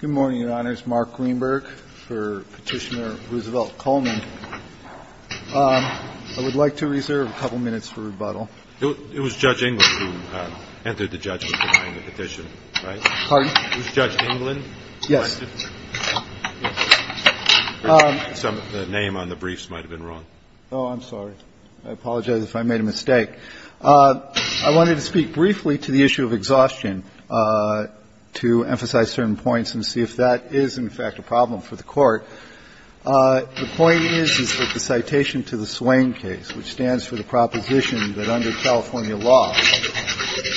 Good morning, Your Honors. Mark Greenberg for Petitioner Roosevelt Coleman. I would like to reserve a couple minutes for rebuttal. It was Judge Englund who entered the judgment behind the petition, right? Pardon? It was Judge Englund who requested? Yes. The name on the briefs might have been wrong. JUSTICE BREYER Oh, I'm sorry. I apologize if I made a mistake. I wanted to speak briefly to the issue of exhaustion to emphasize certain points and see if that is, in fact, a problem for the Court. The point is, is that the citation to the Swain case, which stands for the proposition that under California law,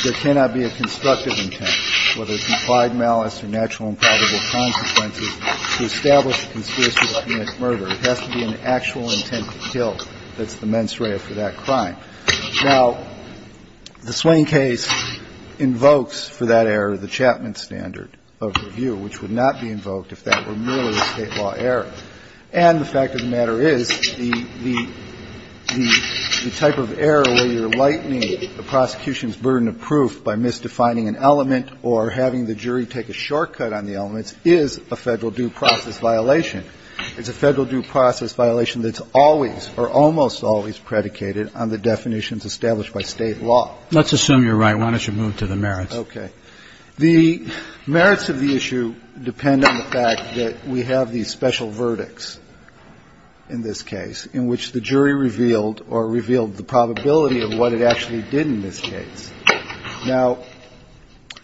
there cannot be a constructive intent, whether it's implied malice or natural and probable consequences, to establish a conspiracy to commit murder. It has to be an actual intent to kill. That's the mens rea for that crime. Now, the Swain case invokes for that error the Chapman standard of review, which would not be invoked if that were merely a State law error. And the fact of the matter is, the type of error where you're lightening the prosecution's burden of proof by misdefining an element or having the jury take a shortcut on the case is a Federal due process violation. It's a Federal due process violation that's always or almost always predicated on the definitions established by State law. Roberts. Let's assume you're right. Why don't you move to the merits? BREYER Okay. The merits of the issue depend on the fact that we have these special verdicts in this case in which the jury revealed or revealed the probability of what it actually did in this case. Now,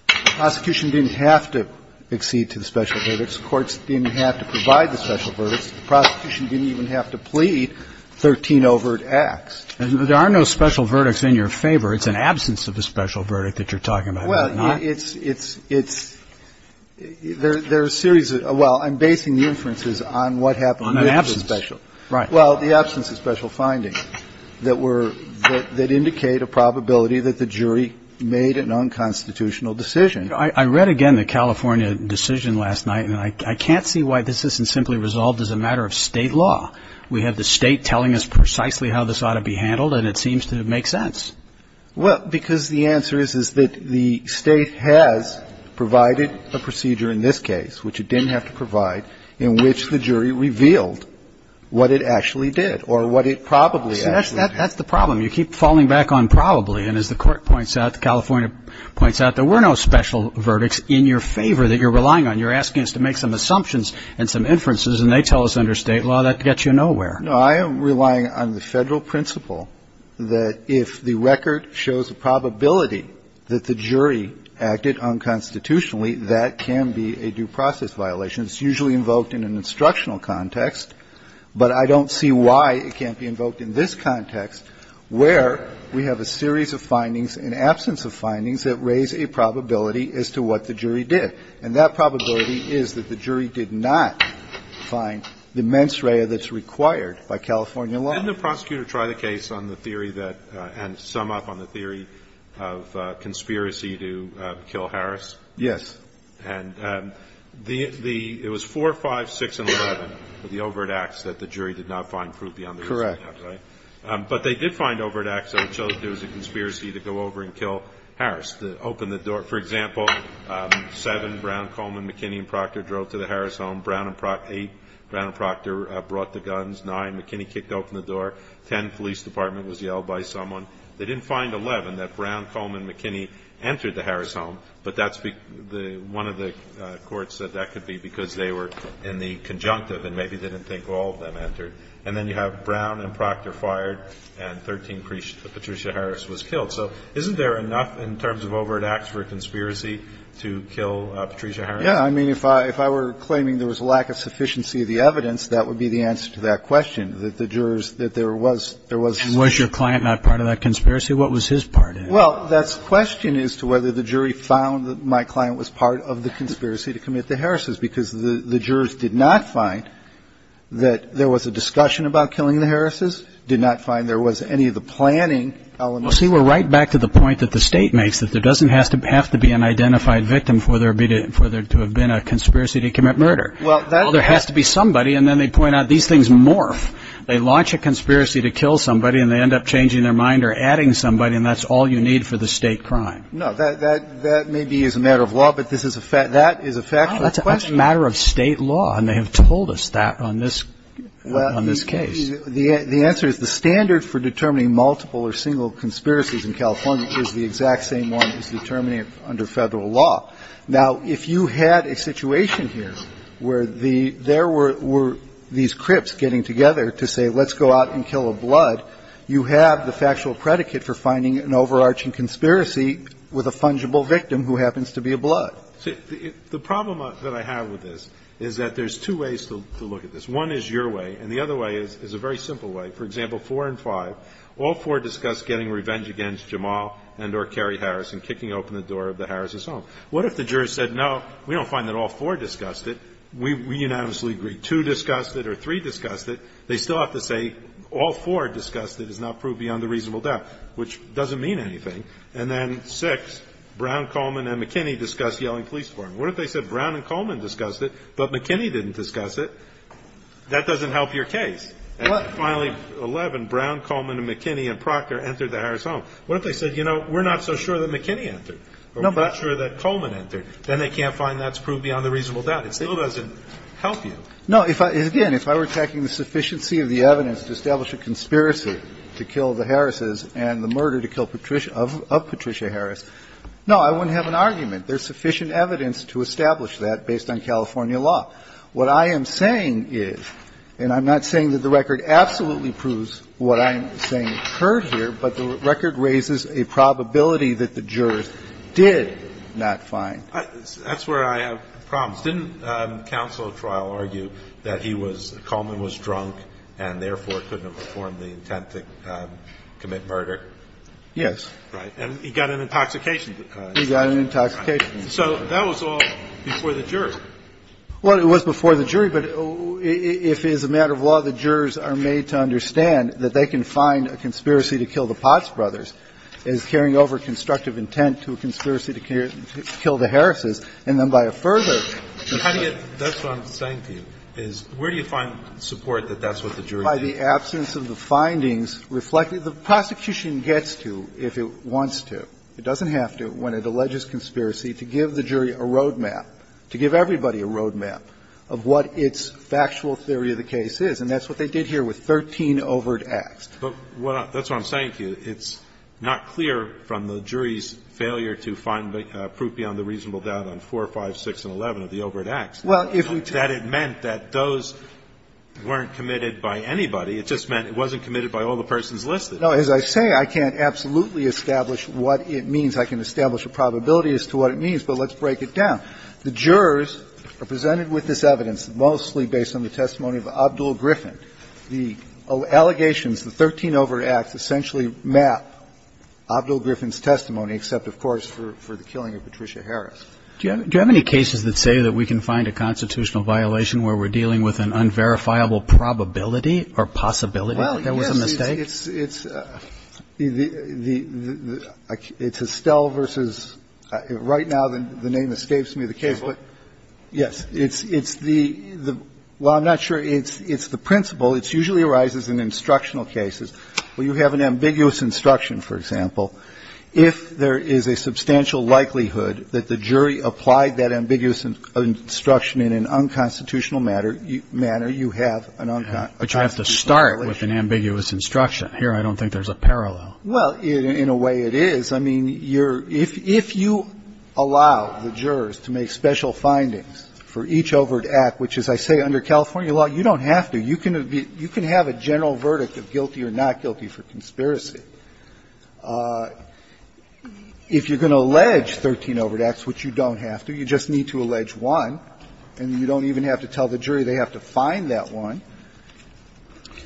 the prosecution didn't have to accede to the special verdicts. The courts didn't have to provide the special verdicts. The prosecution didn't even have to plead 13 overt acts. Roberts. There are no special verdicts in your favor. It's an absence of a special verdict that you're talking about. BREYER Well, it's – it's – there are a series of – well, I'm basing the inferences on what happened with the special. Roberts. On an absence. Right. BREYER Well, the absence of special findings that were – that indicate a probability that the jury made an unconstitutional decision. I read again the California decision last night, and I can't see why this isn't simply resolved as a matter of State law. We have the State telling us precisely how this ought to be handled, and it seems to make sense. BREYER Well, because the answer is that the State has provided a procedure in this case, which it didn't have to provide, in which the jury revealed what it actually did or what it probably actually did. Roberts. See, that's the problem. You keep falling back on probably. And as the verdicts in your favor that you're relying on, you're asking us to make some assumptions and some inferences, and they tell us under State law that gets you nowhere. BREYER No, I am relying on the Federal principle that if the record shows a probability that the jury acted unconstitutionally, that can be a due process violation. It's usually invoked in an instructional context, but I don't see why it can't be invoked in this context, where we have a series of findings, an absence of findings, that raise a probability as to what the jury did. And that probability is that the jury did not find the mens rea that's required by California law. Alito Didn't the prosecutor try the case on the theory that – and sum up on the theory of conspiracy to kill Harris? BREYER Yes. Alito And the – it was 4, 5, 6, and 11 of the overt acts that the jury did not find proof beyond the receipt, right? BREYER Correct. Alito But they did find overt acts that it showed there was a conspiracy to go over and kill Harris that opened the door. For example, 7, Brown, Coleman, McKinney, and Proctor drove to the Harris home. Brown and – 8, Brown and Proctor brought the guns. 9, McKinney kicked open the door. 10, police department was yelled by someone. They didn't find 11, that Brown, Coleman, and McKinney entered the Harris home, but that's – one of the courts said that could be because they were in the conjunctive and maybe didn't think all of them entered. And then you have Brown and Proctor fired, and 13, Patricia Harris was killed. So isn't there enough in terms of overt acts for a conspiracy to kill Patricia Harris? BREYER Yeah. I mean, if I were claiming there was a lack of sufficiency of the evidence, that would be the answer to that question, that the jurors – that there was – there was – Kennedy And was your client not part of that conspiracy? What was his part in it? BREYER Well, that's the question as to whether the jury found that my client was part of the conspiracy to commit the Harrises, because the jurors did not find that there was a discussion about killing the Harrises, did not find there was any of the planning elements. Kennedy Well, see, we're right back to the point that the State makes, that there doesn't have to be an identified victim for there to have been a conspiracy to commit murder. Well, there has to be somebody, and then they point out these things morph. They launch a conspiracy to kill somebody, and they end up changing their mind or adding somebody, and that's all you need for the State crime. BREYER No. That may be as a matter of law, but this is a – that is a factual question. Kennedy It's a matter of State law, and they have told us that on this – on this BREYER Well, the answer is the standard for determining multiple or single conspiracies in California is the exact same one as determining it under Federal law. Now, if you had a situation here where the – there were – were these crypts getting together to say, let's go out and kill a blood, you have the factual predicate for finding an overarching So the problem that I have with this is that there's two ways to look at this. One is your way, and the other way is a very simple way. For example, 4 and 5, all four discussed getting revenge against Jamal and or Kerry Harris and kicking open the door of the Harris' home. What if the jurors said, no, we don't find that all four discussed it, we unanimously agree. Two discussed it or three discussed it, they still have to say all four discussed it is not proved beyond a reasonable doubt, which doesn't mean anything. And then 6, Brown, Coleman, and McKinney discussed yelling police for him. What if they said Brown and Coleman discussed it, but McKinney didn't discuss it? That doesn't help your case. And finally, 11, Brown, Coleman, and McKinney and Proctor entered the Harris' home. What if they said, you know, we're not so sure that McKinney entered or we're not sure that Coleman entered, then they can't find that's proved beyond a reasonable doubt. It still doesn't help you. No, if I – again, if I were taking the sufficiency of the evidence to establish a conspiracy to kill the Harris' and the murder to kill Patricia – of Patricia Harris, no, I wouldn't have an argument. There's sufficient evidence to establish that based on California law. What I am saying is, and I'm not saying that the record absolutely proves what I'm saying occurred here, but the record raises a probability that the jurors did not find. That's where I have problems. Didn't counsel at trial argue that he was – Coleman was drunk and, therefore, couldn't have performed the intent to commit murder? Yes. Right. And he got an intoxication. He got an intoxication. So that was all before the jury. Well, it was before the jury, but if it is a matter of law, the jurors are made to understand that they can find a conspiracy to kill the Potts brothers as carrying over constructive intent to a conspiracy to kill the Harris' and then, by a further – That's what I'm saying to you, is where do you find support that that's what the jury did? By the absence of the findings reflected – the prosecution gets to, if it wants to. It doesn't have to, when it alleges conspiracy, to give the jury a road map, to give everybody a road map of what its factual theory of the case is. And that's what they did here with 13 overt acts. But what – that's what I'm saying to you. It's not clear from the jury's failure to find proof beyond the reasonable doubt on 4, 5, 6, and 11 of the overt acts that it meant that those weren't committed by anybody. It just meant it wasn't committed by all the persons listed. No. As I say, I can't absolutely establish what it means. I can establish a probability as to what it means, but let's break it down. The jurors are presented with this evidence, mostly based on the testimony of Abdul Griffin. The allegations, the 13 overt acts, essentially map Abdul Griffin's testimony, except, of course, for the killing of Patricia Harris. Do you have any cases that say that we can find a constitutional violation where we're dealing with an unverifiable probability or possibility that there was a mistake? Well, yes, it's – it's Estelle versus – right now the name escapes me, the case. But, yes, it's – it's the – well, I'm not sure it's – it's the principle. It usually arises in instructional cases where you have an ambiguous instruction, for example. If there is a substantial likelihood that the jury applied that ambiguous instruction in an unconstitutional matter, you have an unconstitutional violation. But you have to start with an ambiguous instruction. Here I don't think there's a parallel. Well, in a way it is. I mean, you're – if – if you allow the jurors to make special findings for each overt act, which, as I say, under California law, you don't have to. You can be – you can have a general verdict of guilty or not guilty for conspiracy. If you're going to allege 13 overt acts, which you don't have to, you just need to allege one, and you don't even have to tell the jury they have to find that one.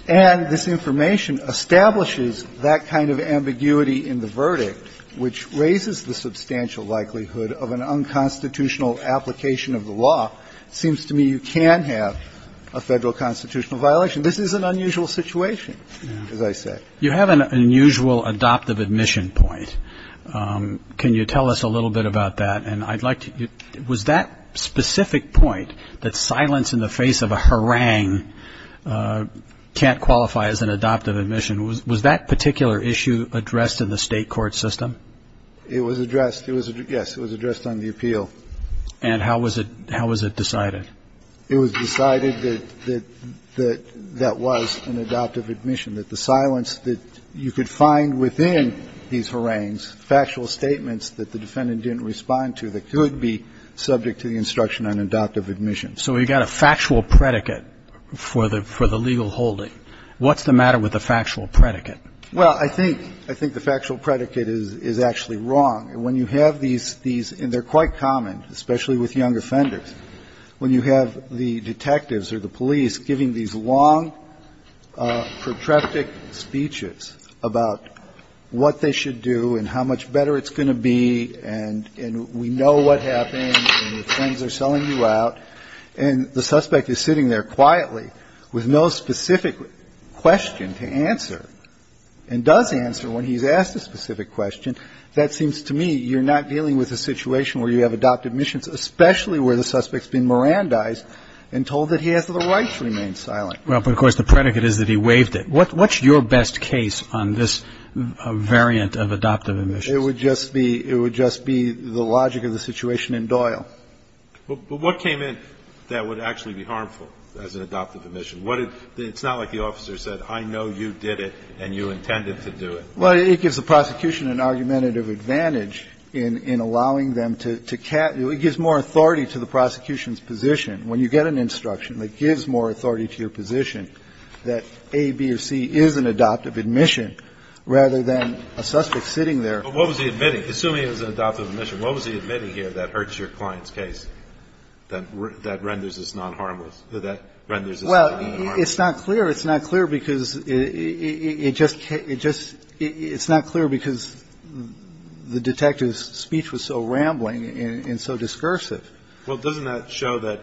And this information establishes that kind of ambiguity in the verdict, which raises the substantial likelihood of an unconstitutional application of the law. It seems to me you can have a Federal constitutional violation. This is an unusual situation, as I say. You have an unusual adoptive admission point. Can you tell us a little bit about that? And I'd like to – was that specific point, that silence in the face of a harangue, can't qualify as an adoptive admission, was that particular issue addressed in the state court system? It was addressed. It was – yes, it was addressed on the appeal. And how was it – how was it decided? It was decided that – that that was an adoptive admission, that the silence that you could find within these harangues, factual statements that the defendant didn't respond to, that could be subject to the instruction on adoptive admission. So we've got a factual predicate for the – for the legal holding. What's the matter with the factual predicate? Well, I think – I think the factual predicate is – is actually wrong. When you have these – these – and they're quite common, especially with young offenders. When you have the detectives or the police giving these long, protracted speeches about what they should do and how much better it's going to be and – and we know what happened and your friends are selling you out, and the suspect is sitting there quietly with no specific question to answer and does answer when he's asked a specific question, that seems to me you're not dealing with a situation where you have adoptive admissions, especially where the suspect's been Mirandized and told that he has the right to remain silent. Well, but of course the predicate is that he waived it. What's your best case on this variant of adoptive admissions? It would just be – it would just be the logic of the situation in Doyle. But what came in that would actually be harmful as an adoptive admission? What did – it's not like the officer said, I know you did it and you intended to do it. Well, it gives the prosecution an argumentative advantage in – in allowing them to – to – it gives more authority to the prosecution's position. When you get an instruction that gives more authority to your position that A, B, or C is an adoptive admission rather than a suspect sitting there. But what was he admitting, assuming it was an adoptive admission, what was he admitting here that hurts your client's case, that renders this non-harmless, that renders this non-harmless? Well, it's not clear. It's not clear because it just – it just – it's not clear because the detective's speech was so rambling and so discursive. Well, doesn't that show that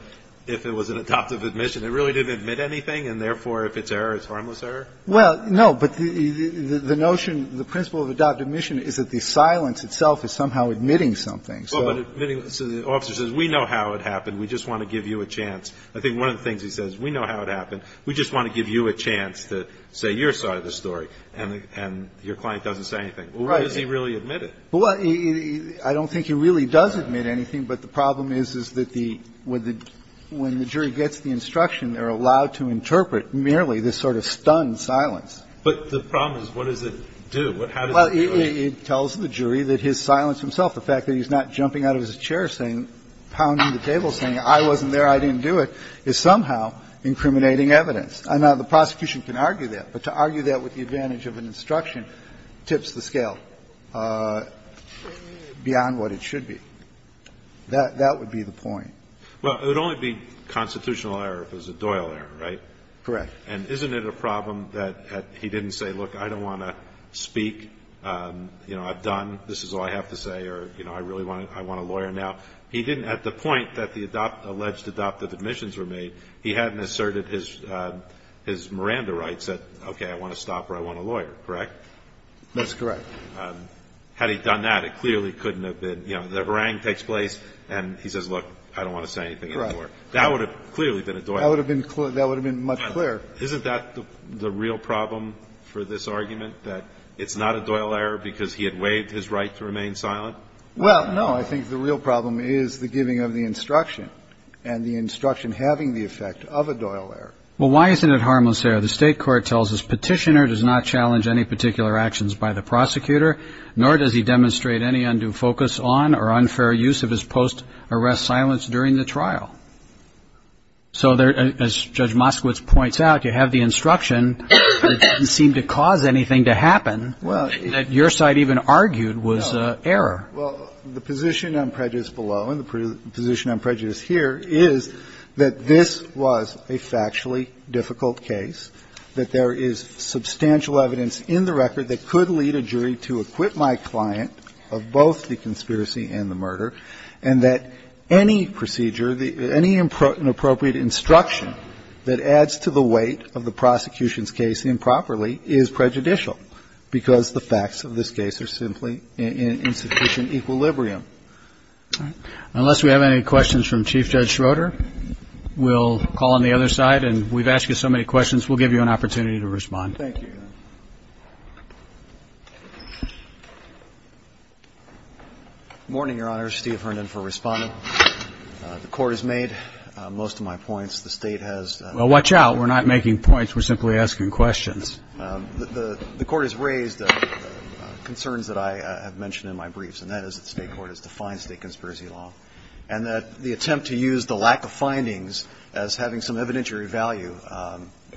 if it was an adoptive admission, it really didn't admit anything, and therefore if it's error, it's harmless error? Well, no, but the – the notion, the principle of adoptive admission is that the silence itself is somehow admitting something. So the officer says, we know how it happened, we just want to give you a chance. I think one of the things he says, we know how it happened, we just want to give you a chance to say your side of the story, and the – and your client doesn't say anything. Well, what does he really admit? Well, I don't think he really does admit anything, but the problem is, is that the – when the jury gets the instruction, they're allowed to interpret merely this sort of stunned silence. But the problem is, what does it do? How does it do it? Well, it tells the jury that his silence himself, the fact that he's not jumping out of his chair saying, pounding the table saying, I wasn't there, I didn't do it, is somehow incriminating evidence. Now, the prosecution can argue that, but to argue that with the advantage of an instruction tips the scale beyond what it should be. That – that would be the point. Well, it would only be constitutional error if it was a Doyle error, right? Correct. And isn't it a problem that he didn't say, look, I don't want to speak, you know, I've done, this is all I have to say, or, you know, I really want to – I want a lawyer now. He didn't – at the point that the alleged adoptive admissions were made, he hadn't asserted his Miranda rights that, okay, I want to stop or I want a lawyer, correct? That's correct. Had he done that, it clearly couldn't have been, you know, the meringue takes place and he says, look, I don't want to say anything anymore. Right. That would have clearly been a Doyle error. That would have been much clearer. Isn't that the real problem for this argument, that it's not a Doyle error because he had waived his right to remain silent? Well, no, I think the real problem is the giving of the instruction and the instruction having the effect of a Doyle error. Well, why isn't it harmless error? The State Court tells us Petitioner does not challenge any particular actions by the prosecutor, nor does he demonstrate any undue focus on or unfair use of his post-arrest silence during the trial. So, as Judge Moskowitz points out, you have the instruction that didn't seem to cause anything to happen that your side even argued was error. Well, the position on prejudice below and the position on prejudice here is that this was a factually difficult case, that there is substantial evidence in the record that could lead a jury to acquit my client of both the conspiracy and the murder, and that any procedure, any appropriate instruction that adds to the weight of the prosecution's case improperly is prejudicial because the facts of this case are simply insufficient in equilibrium. Unless we have any questions from Chief Judge Schroeder, we'll call on the other side. And we've asked you so many questions, we'll give you an opportunity to respond. Thank you. Morning, Your Honor. Steve Herndon for responding. The Court has made most of my points. The State has. Well, watch out. We're not making points. We're simply asking questions. The Court has raised concerns that I have mentioned in my briefs, and that is that the State court has defined State conspiracy law, and that the attempt to use the lack of findings as having some evidentiary value,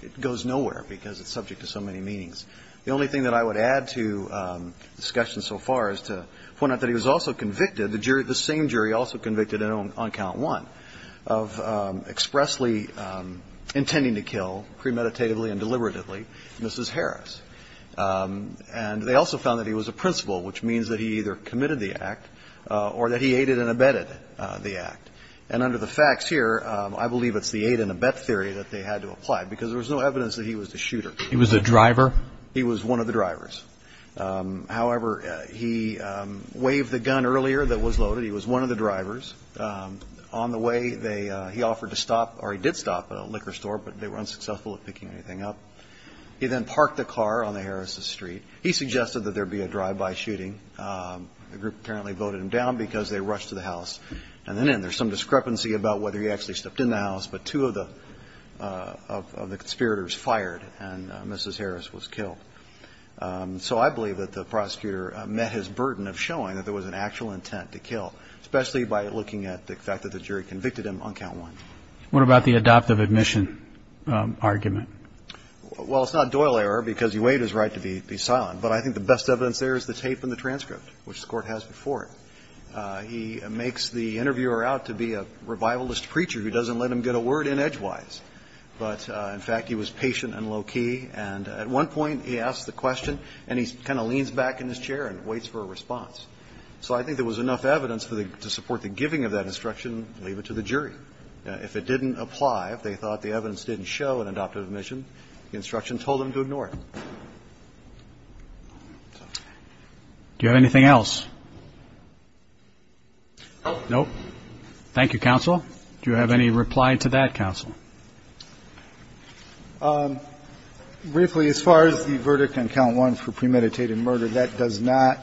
it goes nowhere because it's subject to so many meanings. The only thing that I would add to discussion so far is to point out that he was also convicted, the same jury also convicted on count one, of expressly intending to kill, premeditatively and deliberatively, Mrs. Harris. And they also found that he was a principal, which means that he either committed the act or that he aided and abetted the act. And under the facts here, I believe it's the aid and abet theory that they had to apply because there was no evidence that he was the shooter. He was the driver? He was one of the drivers. However, he waved the gun earlier that was loaded. He was one of the drivers. On the way, they he offered to stop, or he did stop at a liquor store, but they were unsuccessful at picking anything up. He then parked the car on the Harris' street. He suggested that there be a drive-by shooting. The group apparently voted him down because they rushed to the house. And then there's some discrepancy about whether he actually stepped in the house, but two of the conspirators fired and Mrs. Harris was killed. So I believe that the prosecutor met his burden of showing that there was an actual intent to kill, especially by looking at the fact that the jury convicted him on count one. What about the adoptive admission argument? Well, it's not Doyle error because he waived his right to be silent. But I think the best evidence there is the tape and the transcript, which the court has before it. He makes the interviewer out to be a revivalist preacher who doesn't let him get a word in edgewise. But in fact, he was patient and low key. And at one point, he asked the question, and he kind of leans back in his chair and waits for a response. So I think there was enough evidence to support the giving of that instruction, leave it to the jury. If it didn't apply, if they thought the evidence didn't show an adoptive admission, the instruction told them to ignore it. Do you have anything else? Nope. Thank you, counsel. Do you have any reply to that, counsel? Briefly, as far as the verdict on count one for premeditated murder, that does not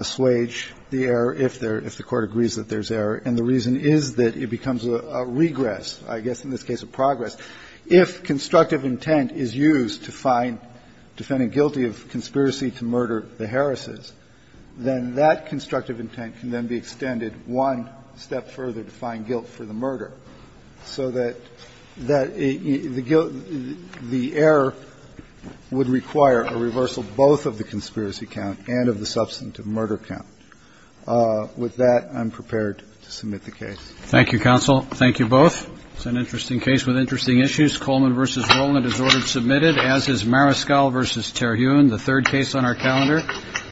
assuage the error if the court agrees that there's error, and the reason is that it becomes a regress, I guess, in this case, a progress. If constructive intent is used to find defendant guilty of conspiracy to murder the Harris's, then that constructive intent can then be extended one step further to find guilt for the murder, so that the error would require a reversal both of the conspiracy count and of the substantive murder count. With that, I'm prepared to submit the case. Thank you, counsel. Thank you both. It's an interesting case with interesting issues. Coleman versus Rowland is ordered submitted, as is Mariscal versus Terhune, the third case on our calendar.